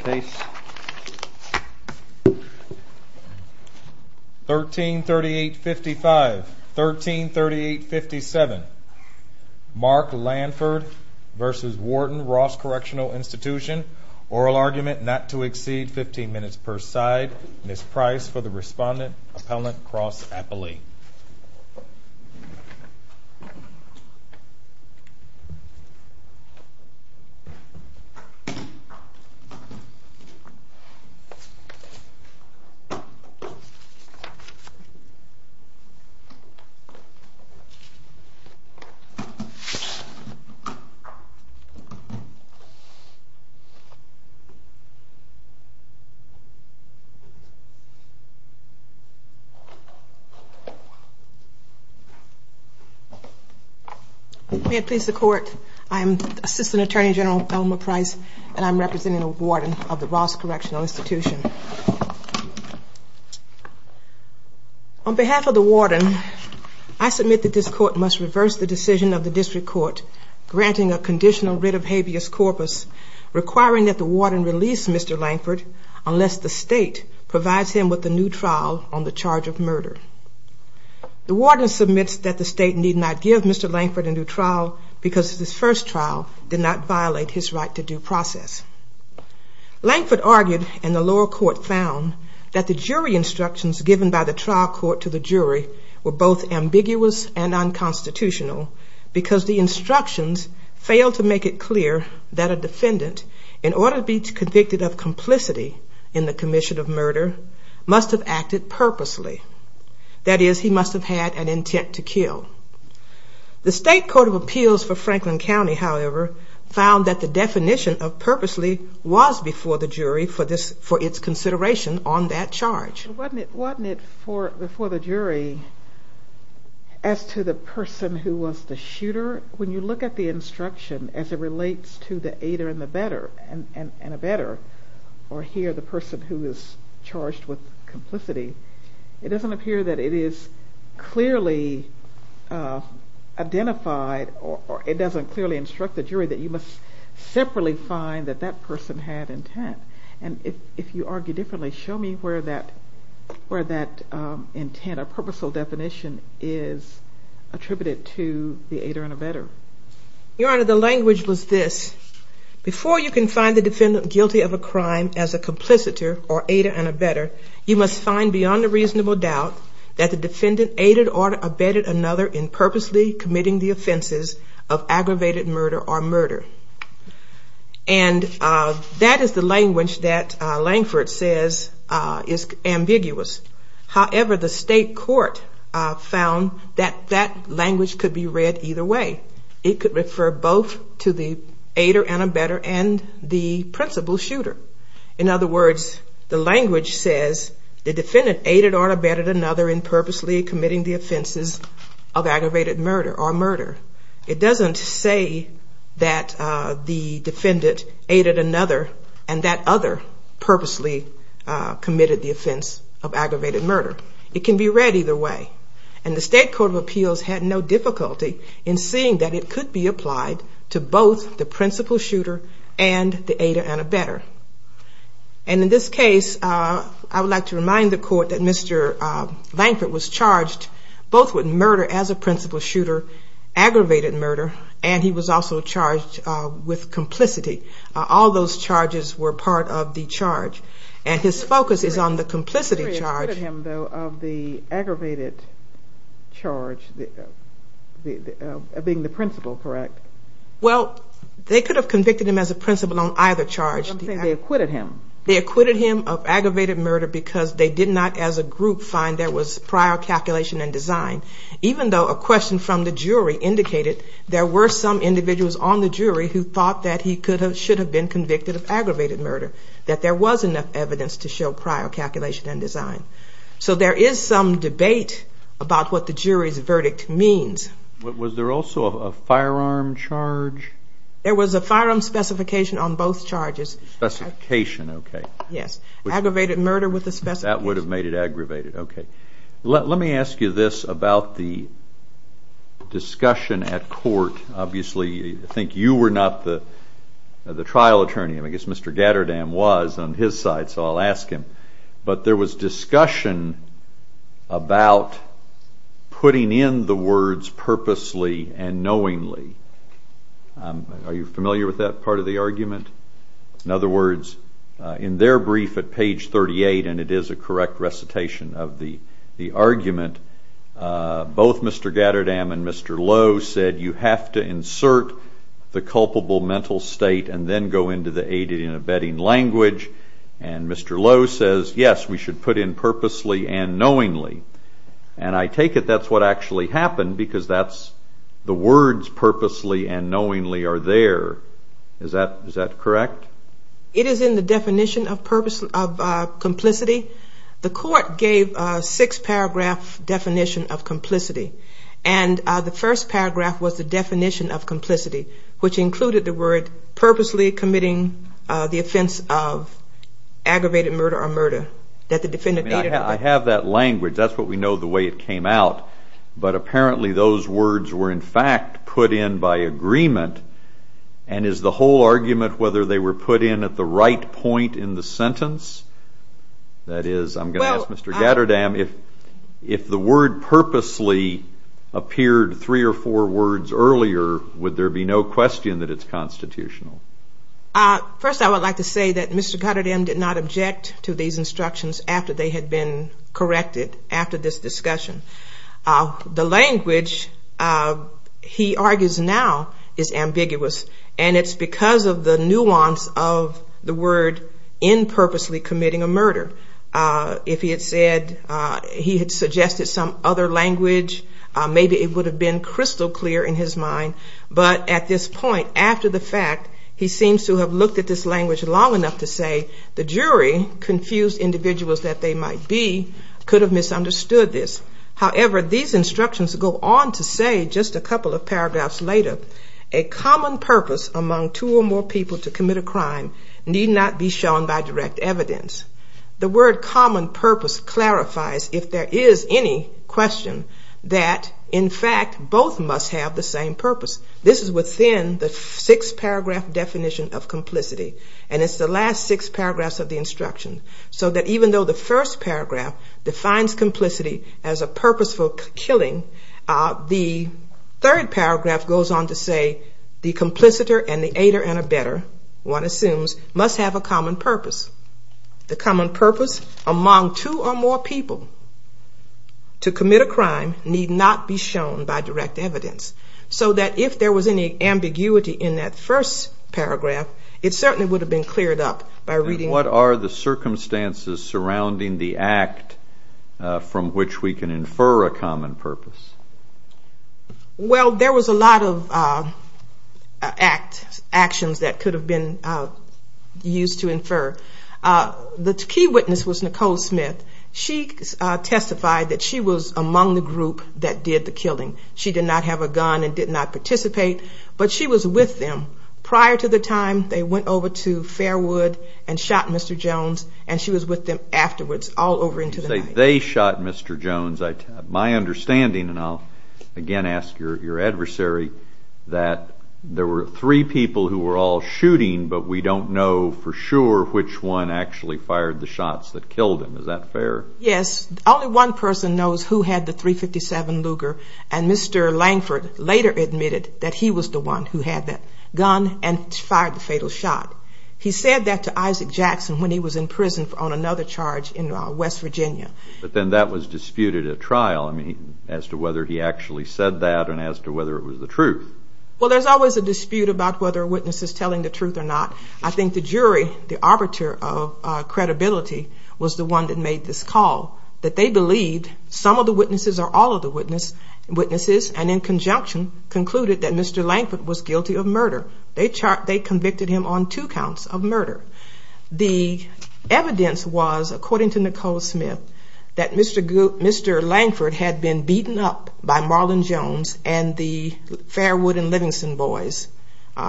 case. 13 38 55 13 38 57 Mark Landford versus Warden Ross Correctional Institution. Oral argument not to exceed 15 minutes per side. Miss Price for the respondent appellant Rossens were and he will be record. The defender Ross Apple Ae Yeah May it please the court. I'm assistant attorney General Elmer Price and I'm representing a warden of the Ross Correctional Institution on behalf of the warden. I submit that this court must reverse the decision of the district court granting a conditional writ of habeas corpus requiring that the warden release Mr. Lankford unless the state provides him with a new trial on the charge of murder. The warden submits that the state need not give Mr. Lankford a new trial because his first trial did not violate his right to due process. Lankford argued and the lower court found that the jury instructions given by the trial court to the jury were both ambiguous and unconstitutional because the instructions failed to make it clear that a defendant in order to be convicted of complicity in the commission of murder must have acted purposely. That is he must have had an intent to kill. The state court of appeals for Franklin County however found that the definition of purposely was before the jury for this for its consideration on that charge. Wasn't it wasn't it for before the jury as to the person who was the shooter when you look at the instruction as it relates to the aider and the better and a better or here the person who is charged with complicity it doesn't appear to be the case. It doesn't appear that it is clearly identified or it doesn't clearly instruct the jury that you must separately find that that person had intent and if you argue differently show me where that where that intent a purposeful definition is attributed to the aider and a better. Your honor the language was this before you can find the defendant guilty of a crime as a complicitor or aider and a better you must find beyond a reasonable doubt that the defendant is guilty of a crime. That the defendant aided or abetted another in purposely committing the offenses of aggravated murder or murder. And that is the language that Langford says is ambiguous. However the state court found that that language could be read either way. It could refer both to the aider and a better and the principal shooter. In other words the language says the defendant aided or abetted another in purposely committing the offenses of aggravated murder or murder. It doesn't say that the defendant aided another and that other purposely committed the offense of aggravated murder. It can be read either way. And the state court of appeals had no difficulty in seeing that it could be applied to both the principal shooter and the aider and a better. And in this case I would like to remind the court that Mr. Langford was charged both with murder as a principal shooter, aggravated murder and he was also charged with complicity. All those charges were part of the charge. And his focus is on the complicity charge. They acquitted him though of the aggravated charge being the principal, correct? Well they could have convicted him as a principal on either charge. They acquitted him of aggravated murder because they did not as a group find there was prior calculation and design. Even though a question from the jury indicated there were some individuals on the jury who thought that he should have been convicted of aggravated murder. That there was enough evidence to show prior calculation and design. So there is some debate about what the jury's verdict means. Was there also a firearm charge? There was a firearm specification on both charges. Specification, okay. Yes, aggravated murder with a specification. That would have made it aggravated, okay. Let me ask you this about the discussion at court. Obviously I think you were not the trial attorney. I guess Mr. Gatterdam was on his side so I'll ask him. But there was discussion about putting in the words purposely and knowingly. That was the correct recitation of the argument. Both Mr. Gatterdam and Mr. Lowe said you have to insert the culpable mental state and then go into the aided and abetting language. And Mr. Lowe says yes, we should put in purposely and knowingly. And I take it that's what actually happened because the words purposely and knowingly are there. Is that correct? It is in the definition of complicity. The court gave a six paragraph definition of complicity. And the first paragraph was the definition of complicity which included the word purposely committing the offense of aggravated murder or murder. I have that language. That's what we know the way it came out. But apparently those words were in fact put in by agreement. And is the whole argument whether they were put in at the right point in the sentence? That is, I'm going to ask Mr. Gatterdam, if the word purposely appeared three or four words earlier, would there be no question that it's constitutional? First I would like to say that Mr. Gatterdam did not object to these instructions after they had been corrected after this discussion. The language he argues now is ambiguous. And it's because of the nuance of the word in purposely committing a murder. If he had said, he had suggested some other language, maybe it would have been crystal clear in his mind. But at this point, after the fact, he seems to have looked at this language long enough to say the jury, confused individuals that they might be, could have misunderstood this. However, these instructions go on to say, just a couple of paragraphs later, a common purpose among two or more people to commit a crime need not be shown by direct evidence. The word common purpose clarifies if there is any question that in fact both must have the same purpose. This is within the six paragraph definition of complicity. And it's the last six paragraphs of the instruction. So that even though the first paragraph defines complicity as a purpose for killing, the third paragraph goes on to say the complicitor and the aider and the better, one assumes, must have a common purpose. The common purpose among two or more people to commit a crime need not be shown by direct evidence. So that if there was any ambiguity in that first paragraph, it certainly would have been cleared up by reading. And what are the circumstances surrounding the act from which we can infer a common purpose? Well, there was a lot of actions that could have been used to infer. The key witness was Nicole Smith. She testified that she was among the group that did the killing. She did not have a gun and did not participate, but she was with them prior to the time they went over to Fairwood and shot Mr. Jones, and she was with them afterwards, all over into the night. You say they shot Mr. Jones. My understanding, and I'll again ask your adversary, that there were three people who were all shooting, but we don't know for sure which one actually fired the shots that killed him. Yes, only one person knows who had the .357 Luger, and Mr. Langford later admitted that he was the one who had that gun and fired the fatal shot. He said that to Isaac Jackson when he was in prison on another charge in West Virginia. But then that was disputed at trial as to whether he actually said that and as to whether it was the truth. Well, there's always a dispute about whether a witness is telling the truth or not. I think the jury, the arbiter of credibility, was the one that made this call. That they believed some of the witnesses or all of the witnesses, and in conjunction, concluded that Mr. Langford was guilty of murder. They convicted him on two counts of murder. The evidence was, according to Nicole Smith, that Mr. Langford had been beaten up by Marlon Jones and the Fairwood and Livingston boys.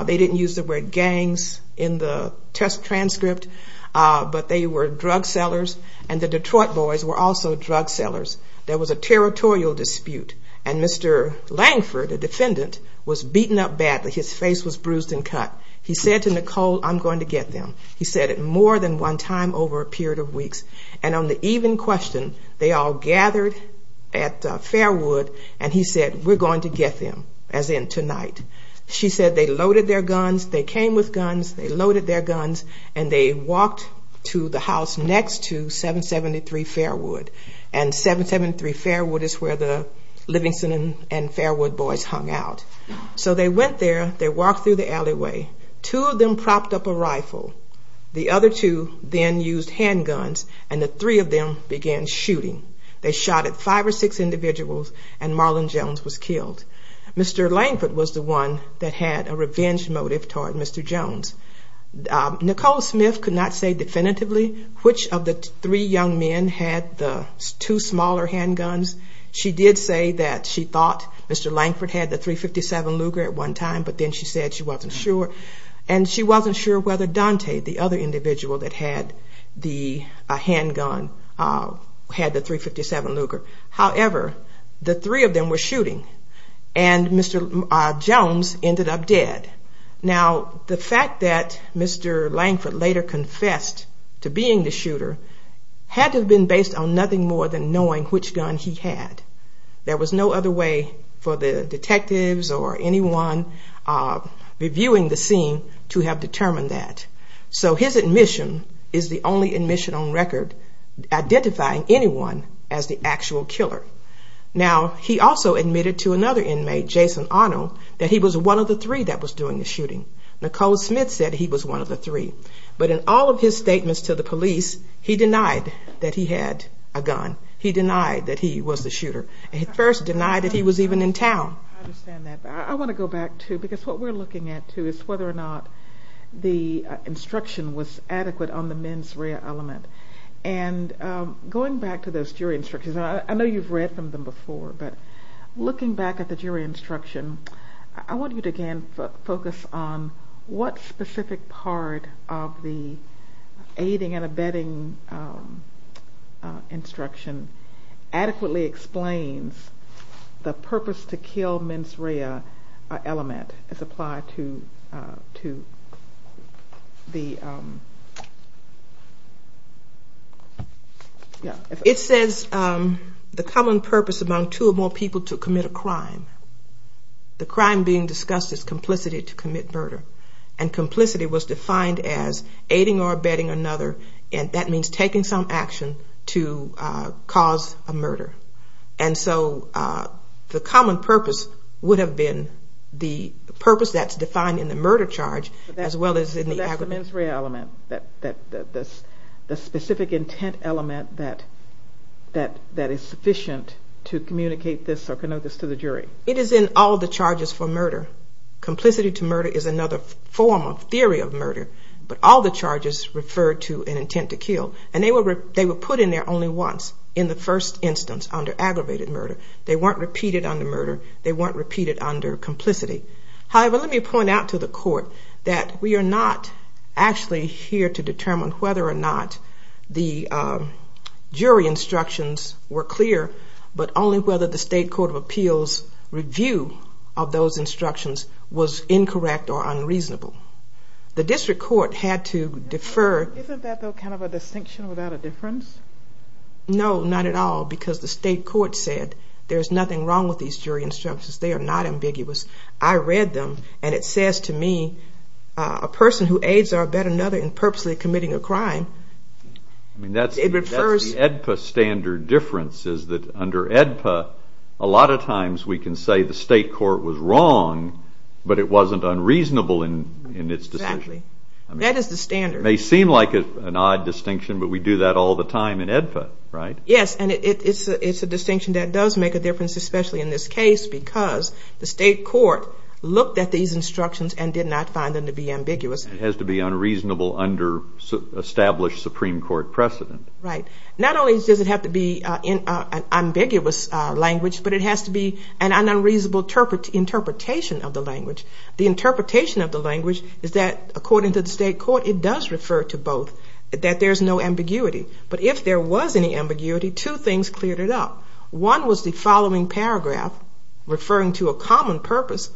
They didn't use the word gangs in the test transcript, but they were drug sellers and the Detroit boys were also drug sellers. There was a territorial dispute, and Mr. Langford, a defendant, was beaten up badly. His face was bruised and cut. He said to Nicole, I'm going to get them. He said it more than one time over a period of weeks. And on the evening question, they all gathered at Fairwood and he said, we're going to get them, as in tonight. She said they loaded their guns, they came with guns, they loaded their guns, and they walked to the house next to 773 Fairwood. And 773 Fairwood is where the Livingston and Fairwood boys hung out. So they went there, they walked through the alleyway. Two of them propped up a rifle. The other two then used handguns and the three of them began shooting. They shot at five or six individuals and Marlon Jones was killed. Mr. Langford was the one that had a revenge motive toward Mr. Jones. Nicole Smith could not say definitively which of the three young men had the two smaller handguns. She did say that she thought Mr. Langford had the .357 Luger at one time, but then she said she wasn't sure. And she wasn't sure whether Dante, the other individual that had the handgun, had the .357 Luger. However, the three of them were shooting and Mr. Jones ended up dead. Now, the fact that Mr. Langford later confessed to being the shooter had to have been based on nothing more than knowing which gun he had. There was no other way for the detectives or anyone reviewing the scene to know which gun he had. So his admission is the only admission on record identifying anyone as the actual killer. Now, he also admitted to another inmate, Jason Arno, that he was one of the three that was doing the shooting. Nicole Smith said he was one of the three, but in all of his statements to the police, he denied that he had a gun. He denied that he was the shooter. He at first denied that he was even in town. I understand that, but I want to go back, too, because what we're looking at, too, is whether or not the instruction was adequate on the mens rea element. And going back to those jury instructions, I know you've read from them before, but looking back at the jury instruction, I want you to again focus on what specific part of the aiding and abetting instruction adequately explains the purpose to kill the men. What part of the men's rea element is applied to the... It says the common purpose among two or more people to commit a crime. The crime being discussed is complicity to commit murder, and complicity was defined as aiding or abetting another, and that means taking some action to cause a murder. And so the common purpose would have been the purpose that's defined in the murder charge, as well as in the... That's the mens rea element, the specific intent element that is sufficient to communicate this or connote this to the jury. It is in all the charges for murder. Complicity to murder is another form of theory of murder, but all the charges refer to an intent to kill, and they were put in there only once, in the first instance, under aggravated murder. They weren't repeated under murder, they weren't repeated under complicity. However, let me point out to the court that we are not actually here to determine whether or not the jury instructions were clear, but only whether the state court of appeals review of those instructions was incorrect or unreasonable. The district court had to defer... No, not at all, because the state court said there's nothing wrong with these jury instructions, they are not ambiguous. I read them, and it says to me, a person who aids or abet another in purposely committing a crime... That's the AEDPA standard difference, is that under AEDPA, a lot of times we can say the state court was wrong, but it wasn't unreasonable in its decision. That is the standard. It may seem like an odd distinction, but we do that all the time in AEDPA, right? Yes, and it's a distinction that does make a difference, especially in this case, because the state court looked at these instructions and did not find them to be ambiguous. It has to be unreasonable under established Supreme Court precedent. Right, not only does it have to be an ambiguous language, but it has to be an unreasonable interpretation of the language. The interpretation of the language is that, according to the state court, it does refer to both, that there's no ambiguity. But if there was any ambiguity, two things cleared it up. One was the following paragraph referring to a common purpose,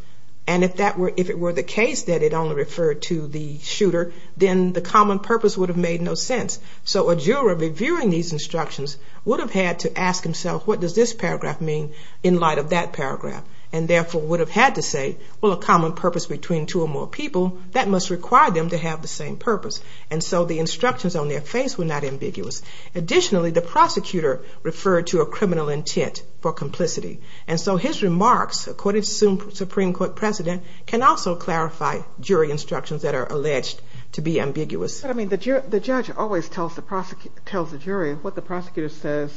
and if it were the case that it only referred to the shooter, then the common purpose would have made no sense. So a juror reviewing these instructions would have had to ask himself, what does this paragraph mean in light of that paragraph? And therefore would have had to say, well, a common purpose between two or more people, that must require them to have the same purpose. And so the instructions on their face were not ambiguous. They had no intentional intent for complicity, and so his remarks, according to the Supreme Court precedent, can also clarify jury instructions that are alleged to be ambiguous. But I mean, the judge always tells the jury what the prosecutor says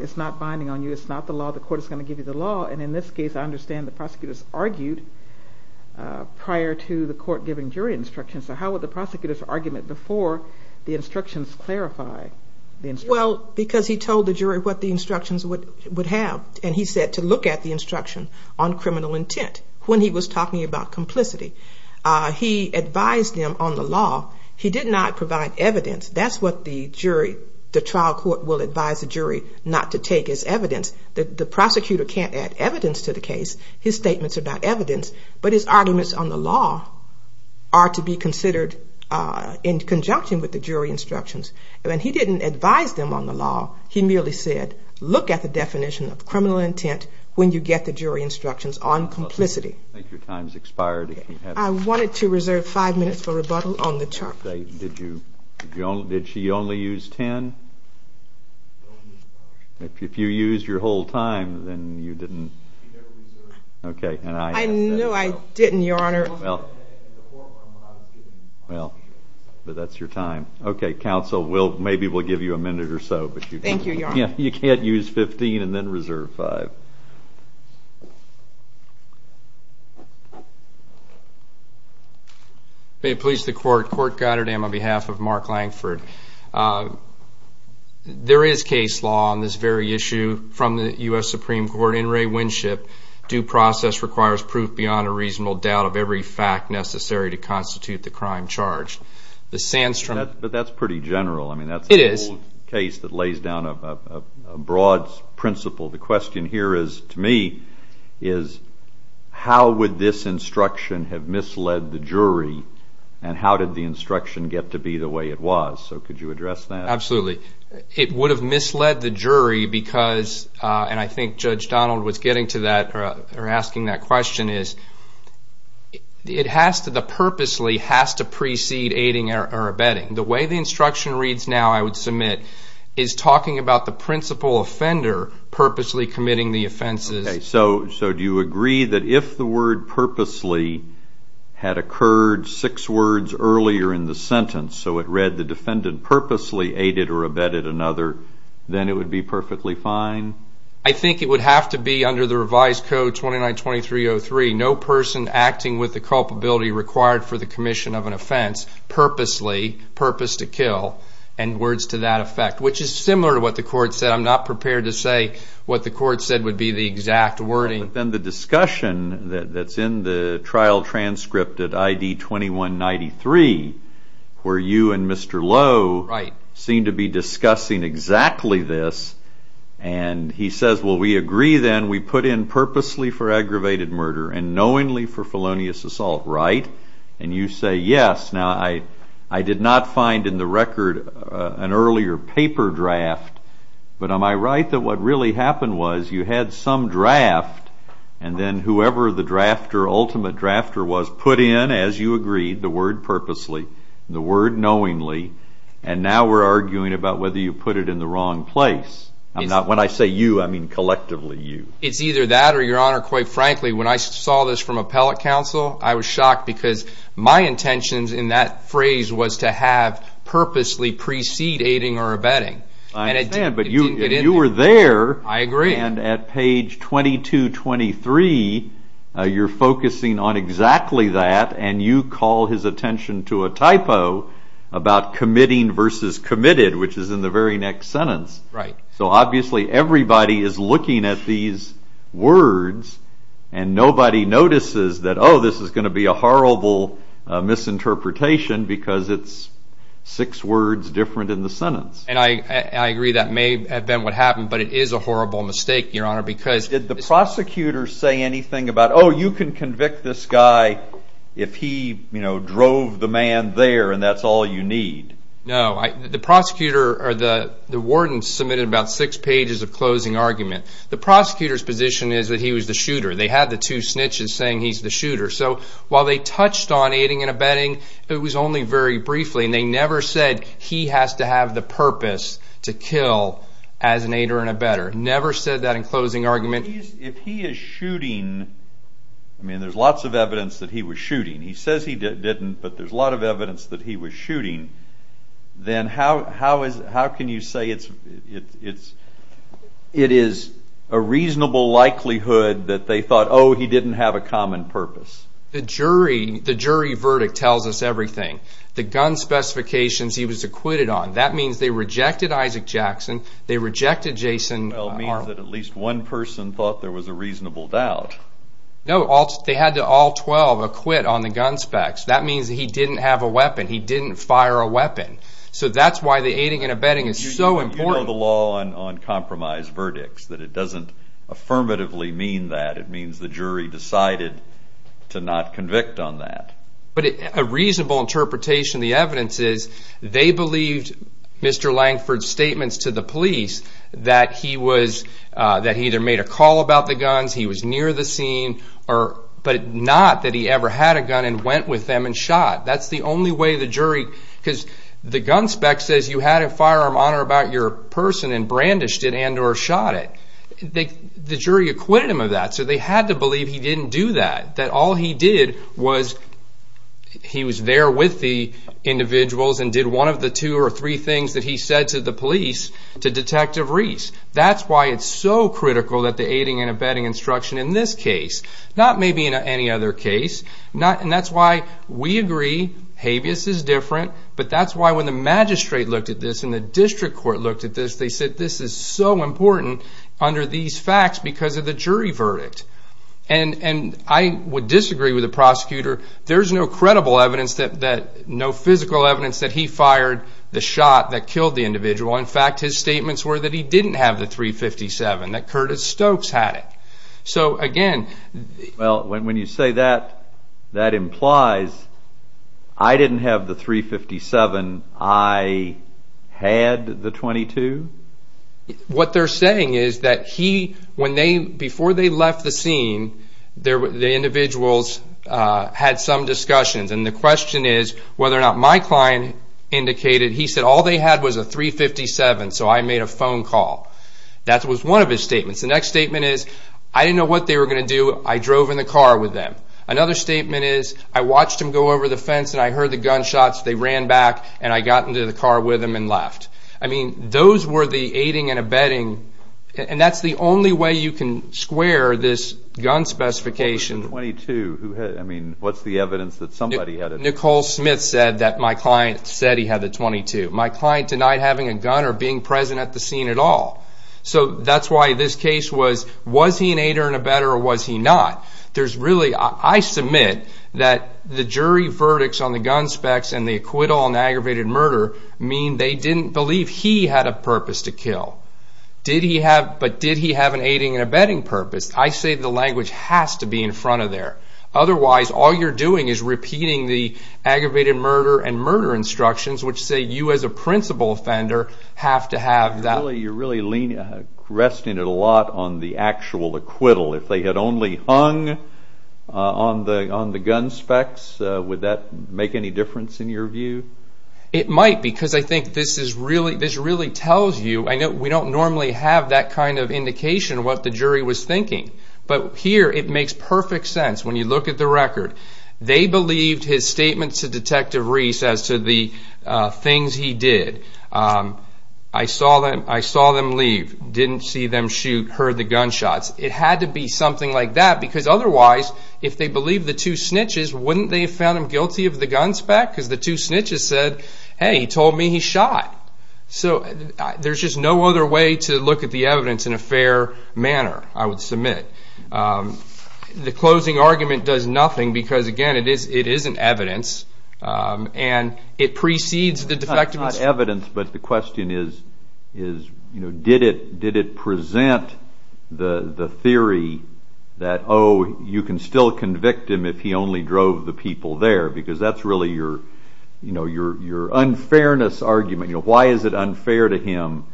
is not binding on you, it's not the law, the court is going to give you the law. And in this case, I understand the prosecutors argued prior to the court giving jury instructions. So how would the prosecutors argument before the instructions clarify the instructions? Well, because he told the jury what the instructions would have, and he said to look at the instruction on criminal intent when he was talking about complicity. He advised them on the law. He did not provide evidence. That's what the jury, the trial court will advise the jury not to take as evidence. The prosecutor can't add evidence to the case. His statements are not evidence, but his arguments on the law are to be considered in conjunction with the jury instructions. He merely said, look at the definition of criminal intent when you get the jury instructions on complicity. I wanted to reserve five minutes for rebuttal on the charge. Did she only use ten? If you used your whole time, then you didn't... Well, that's your time. Okay, counsel, maybe we'll give you a minute or so. May it please the court, Court Goddard and on behalf of Mark Langford. There is case law on this very issue from the U.S. Supreme Court. In Ray Winship, due process requires proof beyond a reasonable doubt of every fact necessary to constitute the crime charged. But that's pretty general. The question here to me is, how would this instruction have misled the jury, and how did the instruction get to be the way it was? Could you address that? I think what I was getting to or asking that question is, it has to, the purposely has to precede aiding or abetting. The way the instruction reads now, I would submit, is talking about the principal offender purposely committing the offenses. Okay, so do you agree that if the word purposely had occurred six words earlier in the sentence, so it read the defendant purposely aided or abetted another, then it would be perfectly fine? I think it would have to be under the revised code 292303, no person acting with the culpability required for the commission of an offense, purposely, purpose to kill, and words to that effect. Which is similar to what the court said, I'm not prepared to say what the court said would be the exact wording. But then the discussion that's in the trial transcript at ID 2193, where you and Mr. Lowe seem to be discussing exactly this, and you and Mr. Lowe are discussing the same thing. And he says, well we agree then, we put in purposely for aggravated murder and knowingly for felonious assault, right? And you say yes, now I did not find in the record an earlier paper draft, but am I right that what really happened was you had some draft, and then whoever the ultimate drafter was put in, as you agreed, the word purposely, the word knowingly, and now we're arguing about whether you put it in the wrong place. When I say you, I mean collectively you. It's either that or your honor, quite frankly, when I saw this from appellate counsel, I was shocked because my intentions in that phrase was to have purposely precede aiding or abetting. I understand, but you were there, and at page 2223, you're focusing on exactly that, and you call his attention to a typo about committing versus committed, which is in the very next sentence. So obviously everybody is looking at these words, and nobody notices that, oh, this is going to be a horrible misinterpretation because it's six words different in the sentence. And I agree that may have been what happened, but it is a horrible mistake, your honor, because Did the prosecutor say anything about, oh, you can convict this guy if he drove the man there, and that's all you need? No, the warden submitted about six pages of closing argument. The prosecutor's position is that he was the shooter. They had the two snitches saying he's the shooter, so while they touched on aiding and abetting, it was only very briefly, and they never said he has to have the purpose to kill as an aider and abetter. Never said that in closing argument. If he is shooting, I mean, there's lots of evidence that he was shooting. He says he didn't, but there's a lot of evidence that he was shooting, then how can you say it is a reasonable likelihood that they thought, oh, he didn't have a common purpose? The jury verdict tells us everything. The gun specifications he was acquitted on, that means they rejected Isaac Jackson, they rejected Jason Arnold. All 12 means that at least one person thought there was a reasonable doubt. No, they had to all 12 acquit on the gun specs. That means he didn't have a weapon, he didn't fire a weapon, so that's why the aiding and abetting is so important. You know the law on compromise verdicts, that it doesn't affirmatively mean that. It means the jury decided to not convict on that. But a reasonable interpretation of the evidence is they believed Mr. Langford's statements to the police that he either made a call about the guns, he was near the scene, but not that he ever had a gun and went with them and shot. That's the only way the jury, because the gun spec says you had a firearm on or about your person and brandished it and or shot it. The jury acquitted him of that, so they had to believe he didn't do that. That all he did was he was there with the individuals and did one of the two or three things that he said to the police to Detective Reese. That's why it's so critical that the aiding and abetting instruction in this case, not maybe in any other case. And that's why we agree habeas is different, but that's why when the magistrate looked at this and the district court looked at this, they said this is so important under these facts because of the jury verdict. And I would disagree with the prosecutor. There's no physical evidence that he fired the shot that killed the individual. In fact, his statements were that he didn't have the .357, that Curtis Stokes had it. Well, when you say that, that implies I didn't have the .357, I had the .22? What they're saying is that before they left the scene, the individuals had some discussions. And the question is whether or not my client indicated he said all they had was a .357, so I made a phone call. That was one of his statements. The next statement is I didn't know what they were going to do. I drove in the car with them. Another statement is I watched them go over the fence, and I heard the gunshots. They ran back, and I got into the car with them and left. I mean, those were the aiding and abetting, and that's the only way you can square this gun specification. What was the .22? I mean, what's the evidence that somebody had it? Nicole Smith said that my client said he had the .22. My client denied having a gun or being present at the scene at all. So that's why this case was, was he an aider and abetter, or was he not? I submit that the jury verdicts on the gun specs and the acquittal on aggravated murder mean they didn't believe he had a purpose to kill. But did he have an aiding and abetting purpose? I say the language has to be in front of there. Otherwise, all you're doing is repeating the aggravated murder and murder instructions, which say you as a principal offender have to have that. You're really resting it a lot on the actual acquittal. If they had only hung on the gun specs, would that make any difference in your view? It might, because I think this really tells you. We don't normally have that kind of indication of what the jury was thinking, but here it makes perfect sense when you look at the record. They believed his statement to Detective Reese as to the things he did. I saw them leave, didn't see them shoot, heard the gunshots. It had to be something like that, because otherwise, if they believed the two snitches, wouldn't they have found him guilty of the gun spec, because the two snitches said, hey, he told me he shot. There's just no other way to look at the evidence in a fair manner, I would submit. The closing argument does nothing, because again, it isn't evidence, and it precedes the defective instruction. It's not evidence, but the question is, did it present the theory that, oh, you can still convict him if he only drove the people there, because that's really your unfairness argument. Why is it unfair to him?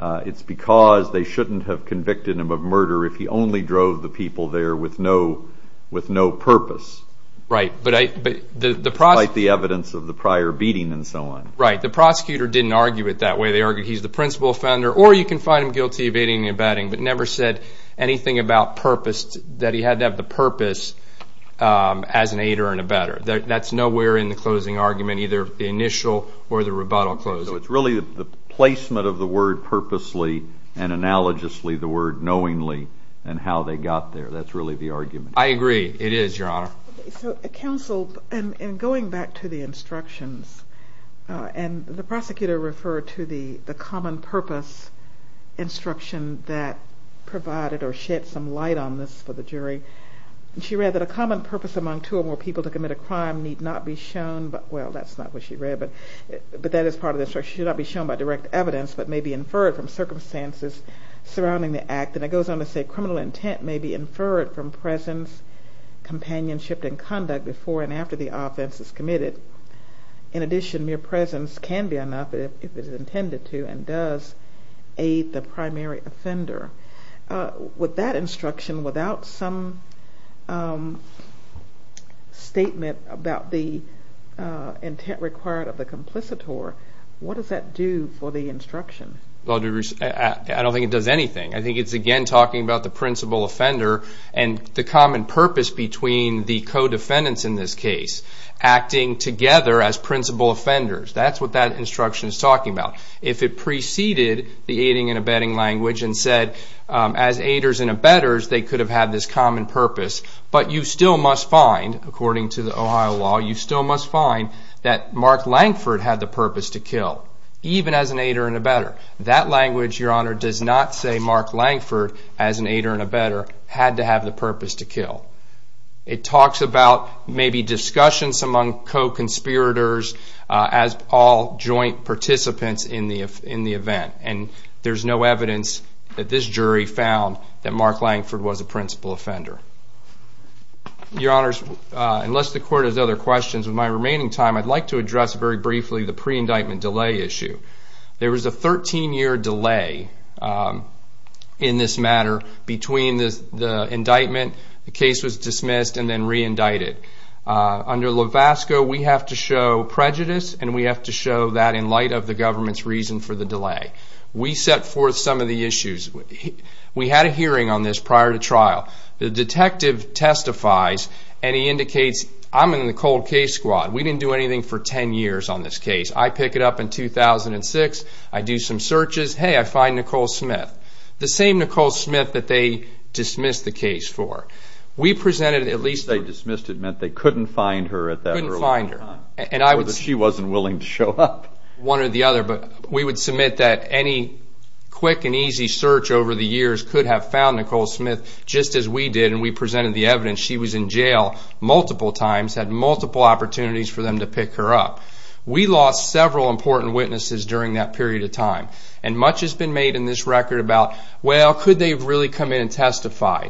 It's because they shouldn't have convicted him of murder if he only drove the people there with no purpose. Despite the evidence of the prior beating and so on. The prosecutor didn't argue it that way. He's the principal offender, or you can find him guilty of aiding and abetting, but never said anything about purpose, that he had to have the purpose as an aider and abetter. That's nowhere in the closing argument, either the initial or the rebuttal closing. It's really the placement of the word purposely, and analogously the word knowingly, and how they got there. That's really the argument. I agree. It is, Your Honor. Counsel, in going back to the instructions, the prosecutor referred to the common purpose instruction that provided or shed some light on this for the jury. She read that a common purpose among two or more people to commit a crime need not be shown, well, that's not what she read, but that is part of the instruction, should not be shown by direct evidence, but may be inferred from circumstances surrounding the act. And it goes on to say criminal intent may be inferred from presence, companionship, and conduct before and after the offense is committed. In addition, mere presence can be enough if it is intended to and does aid the primary offender. With that instruction, without some statement about the intent required of the complicitor, what does that do for the instruction? I don't think it does anything. I think it's again talking about the principal offender and the common purpose between the co-defendants in this case, acting together as principal offenders. That's what that instruction is talking about. If it preceded the aiding and abetting language and said, as aiders and abetters, they could have had this common purpose, but you still must find, according to the Ohio law, you still must find that Mark Langford had the purpose to kill, even as an aider and abetter. That language, Your Honor, does not say Mark Langford, as an aider and abetter, had to have the purpose to kill. It talks about maybe discussions among co-conspirators as all joint participants in the event. There's no evidence that this jury found that Mark Langford was a principal offender. Your Honors, unless the Court has other questions, with my remaining time, I'd like to address very briefly the pre-indictment delay issue. There was a 13-year delay in this matter between the indictment, the case was dismissed, and then re-indicted. Under Levasco, we have to show prejudice, and we have to show that in light of the government's reason for the delay. We set forth some of the issues. The detective testifies, and he indicates, I'm in the cold case squad. We didn't do anything for 10 years on this case. I pick it up in 2006. I do some searches. Hey, I find Nicole Smith. The same Nicole Smith that they dismissed the case for. We presented at least... She was in jail multiple times, had multiple opportunities for them to pick her up. We lost several important witnesses during that period of time. Much has been made in this record about, well, could they really come in and testify?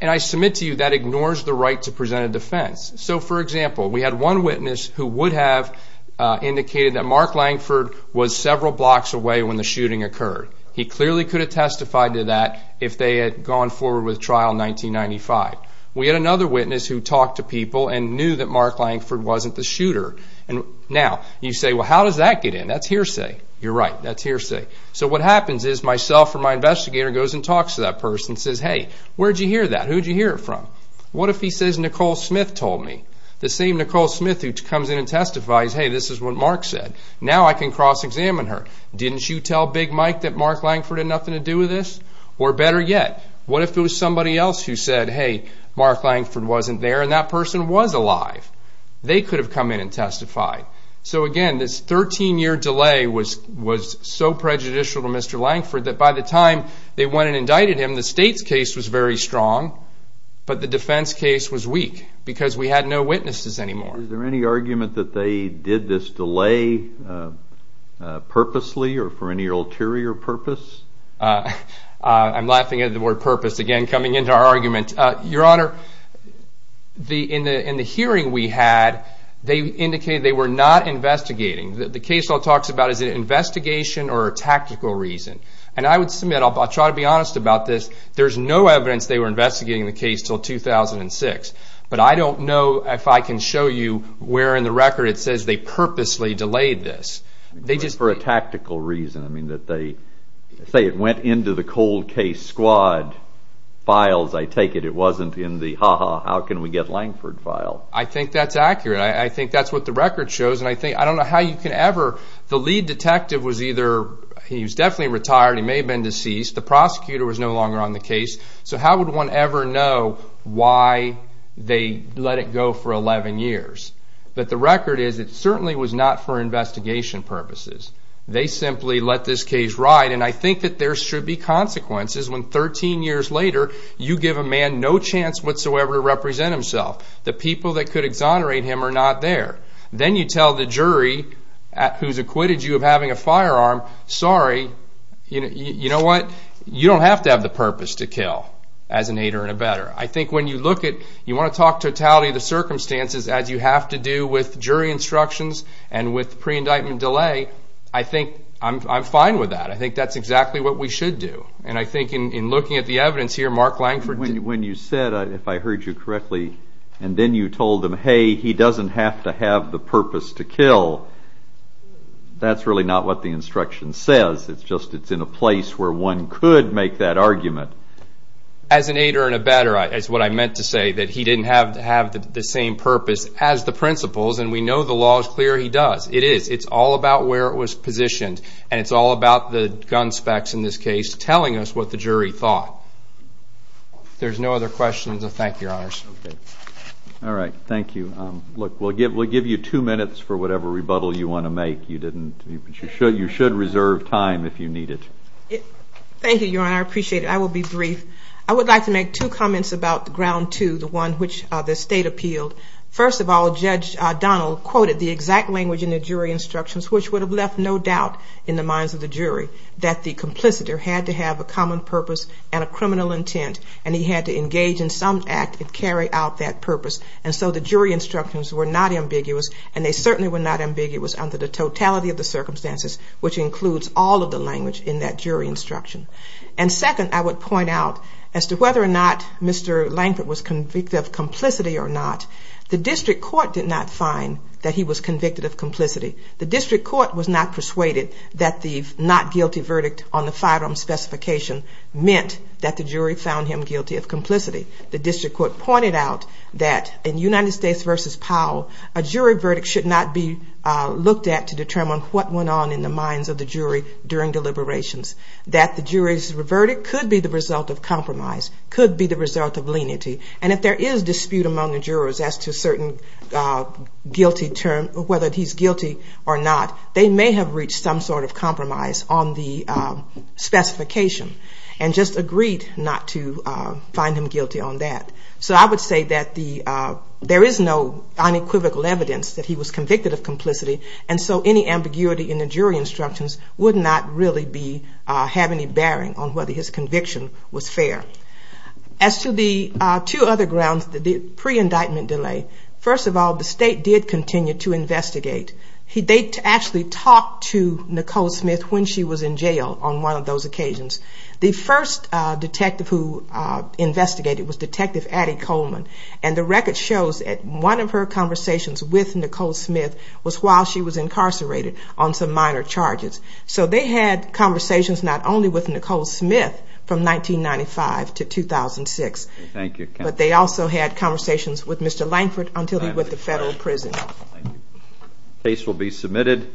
I submit to you that ignores the right to present a defense. We had one witness who would have indicated that Mark Langford was several blocks away when the shooting occurred. He clearly could have testified to that if they had gone forward with trial in 1995. We had another witness who talked to people and knew that Mark Langford wasn't the shooter. Now, you say, well, how does that get in? That's hearsay. You're right. That's hearsay. So what happens is myself or my investigator goes and talks to that person and says, hey, where'd you hear that? Who'd you hear it from? What if he says Nicole Smith told me? The same Nicole Smith who comes in and testifies, hey, this is what Mark said. Now I can cross-examine her. Didn't you tell Big Mike that Mark Langford had nothing to do with this? Or better yet, what if it was somebody else who said, hey, Mark Langford wasn't there and that person was alive? They could have come in and testified. So again, this 13-year delay was so prejudicial to Mr. Langford that by the time they went and indicted him, the state's case was very strong, but the defense case was weak because we had no witnesses anymore. Is there any argument that they did this delay purposely or for any ulterior purpose? I'm laughing at the word purpose again coming into our argument. Your Honor, in the hearing we had, they indicated they were not investigating. The case all talks about is it an investigation or a tactical reason? And I would submit, I'll try to be honest about this, there's no evidence they were investigating the case until 2006. But I don't know if I can show you where in the record it says they purposely delayed this. But for a tactical reason, that they say it went into the cold case squad files, I take it it wasn't in the ha-ha, how can we get Langford file? I think that's accurate. I think that's what the record shows. The lead detective was either, he was definitely retired, he may have been deceased, the prosecutor was no longer on the case. So how would one ever know why they let it go for 11 years? But the record is it certainly was not for investigation purposes. They simply let this case ride and I think that there should be consequences when 13 years later, you give a man no chance whatsoever to represent himself. The people that could exonerate him are not there. Then you tell the jury who has acquitted you of having a firearm, sorry, you know what? You don't have to have the purpose to kill as an aider and abetter. I think when you look at, you want to talk totality of the circumstances as you have to do with jury instructions and with pre-indictment delay, I think I'm fine with that. I think that's exactly what we should do. And I think in looking at the evidence here, Mark Langford... When you said, if I heard you correctly, and then you told them, hey, he doesn't have to have the purpose to kill, that's really not what the instruction says. It's just it's in a place where one could make that argument. As an aider and abetter is what I meant to say. That he didn't have to have the same purpose as the principals, and we know the law is clear he does. It is. It's all about where it was positioned, and it's all about the gun specs in this case, telling us what the jury thought. There's no other questions. Thank you, Your Honors. All right. Thank you. Look, we'll give you two minutes for whatever rebuttal you want to make. You should reserve time if you need it. Thank you, Your Honor. I appreciate it. I will be brief. I would like to make two comments about Ground 2, the one which the State appealed. First of all, Judge Donnell quoted the exact language in the jury instructions, which would have left no doubt in the minds of the jury that the complicitor had to have a common purpose and a criminal intent, and he had to engage in some act and carry out that purpose. And so the jury instructions were not ambiguous, and they certainly were not ambiguous under the totality of the circumstances, which includes all of the language in that jury instruction. And second, I would point out, as to whether or not Mr. Lankford was convicted of complicity or not, the district court did not find that he was convicted of complicity. The district court was not persuaded that the not guilty verdict on the firearm specification meant that the jury found him guilty of complicity. The district court pointed out that in United States v. Powell, a jury verdict should not be looked at to determine what went on in the minds of the jury during deliberations, that the jury's verdict could be the result of compromise, could be the result of leniency, and if there is dispute among the jurors as to whether he's guilty or not, they may have reached some sort of compromise on the specification, and just agreed not to find him guilty on that. So I would say that there is no unequivocal evidence that he was convicted of complicity, and so any ambiguity in the jury instructions would not really have any bearing on whether his conviction was fair. As to the two other grounds, the pre-indictment delay, first of all, the state did continue to investigate. They actually talked to Nicole Smith when she was in jail on one of those occasions. The first detective who investigated was Detective Addie Coleman, and the record shows that one of her conversations with Nicole Smith was while she was incarcerated on some minor charges. So they had conversations not only with Nicole Smith from 1995 to 2006, but they also had conversations with Mr. Lankford until he went to federal prison. This case will be submitted.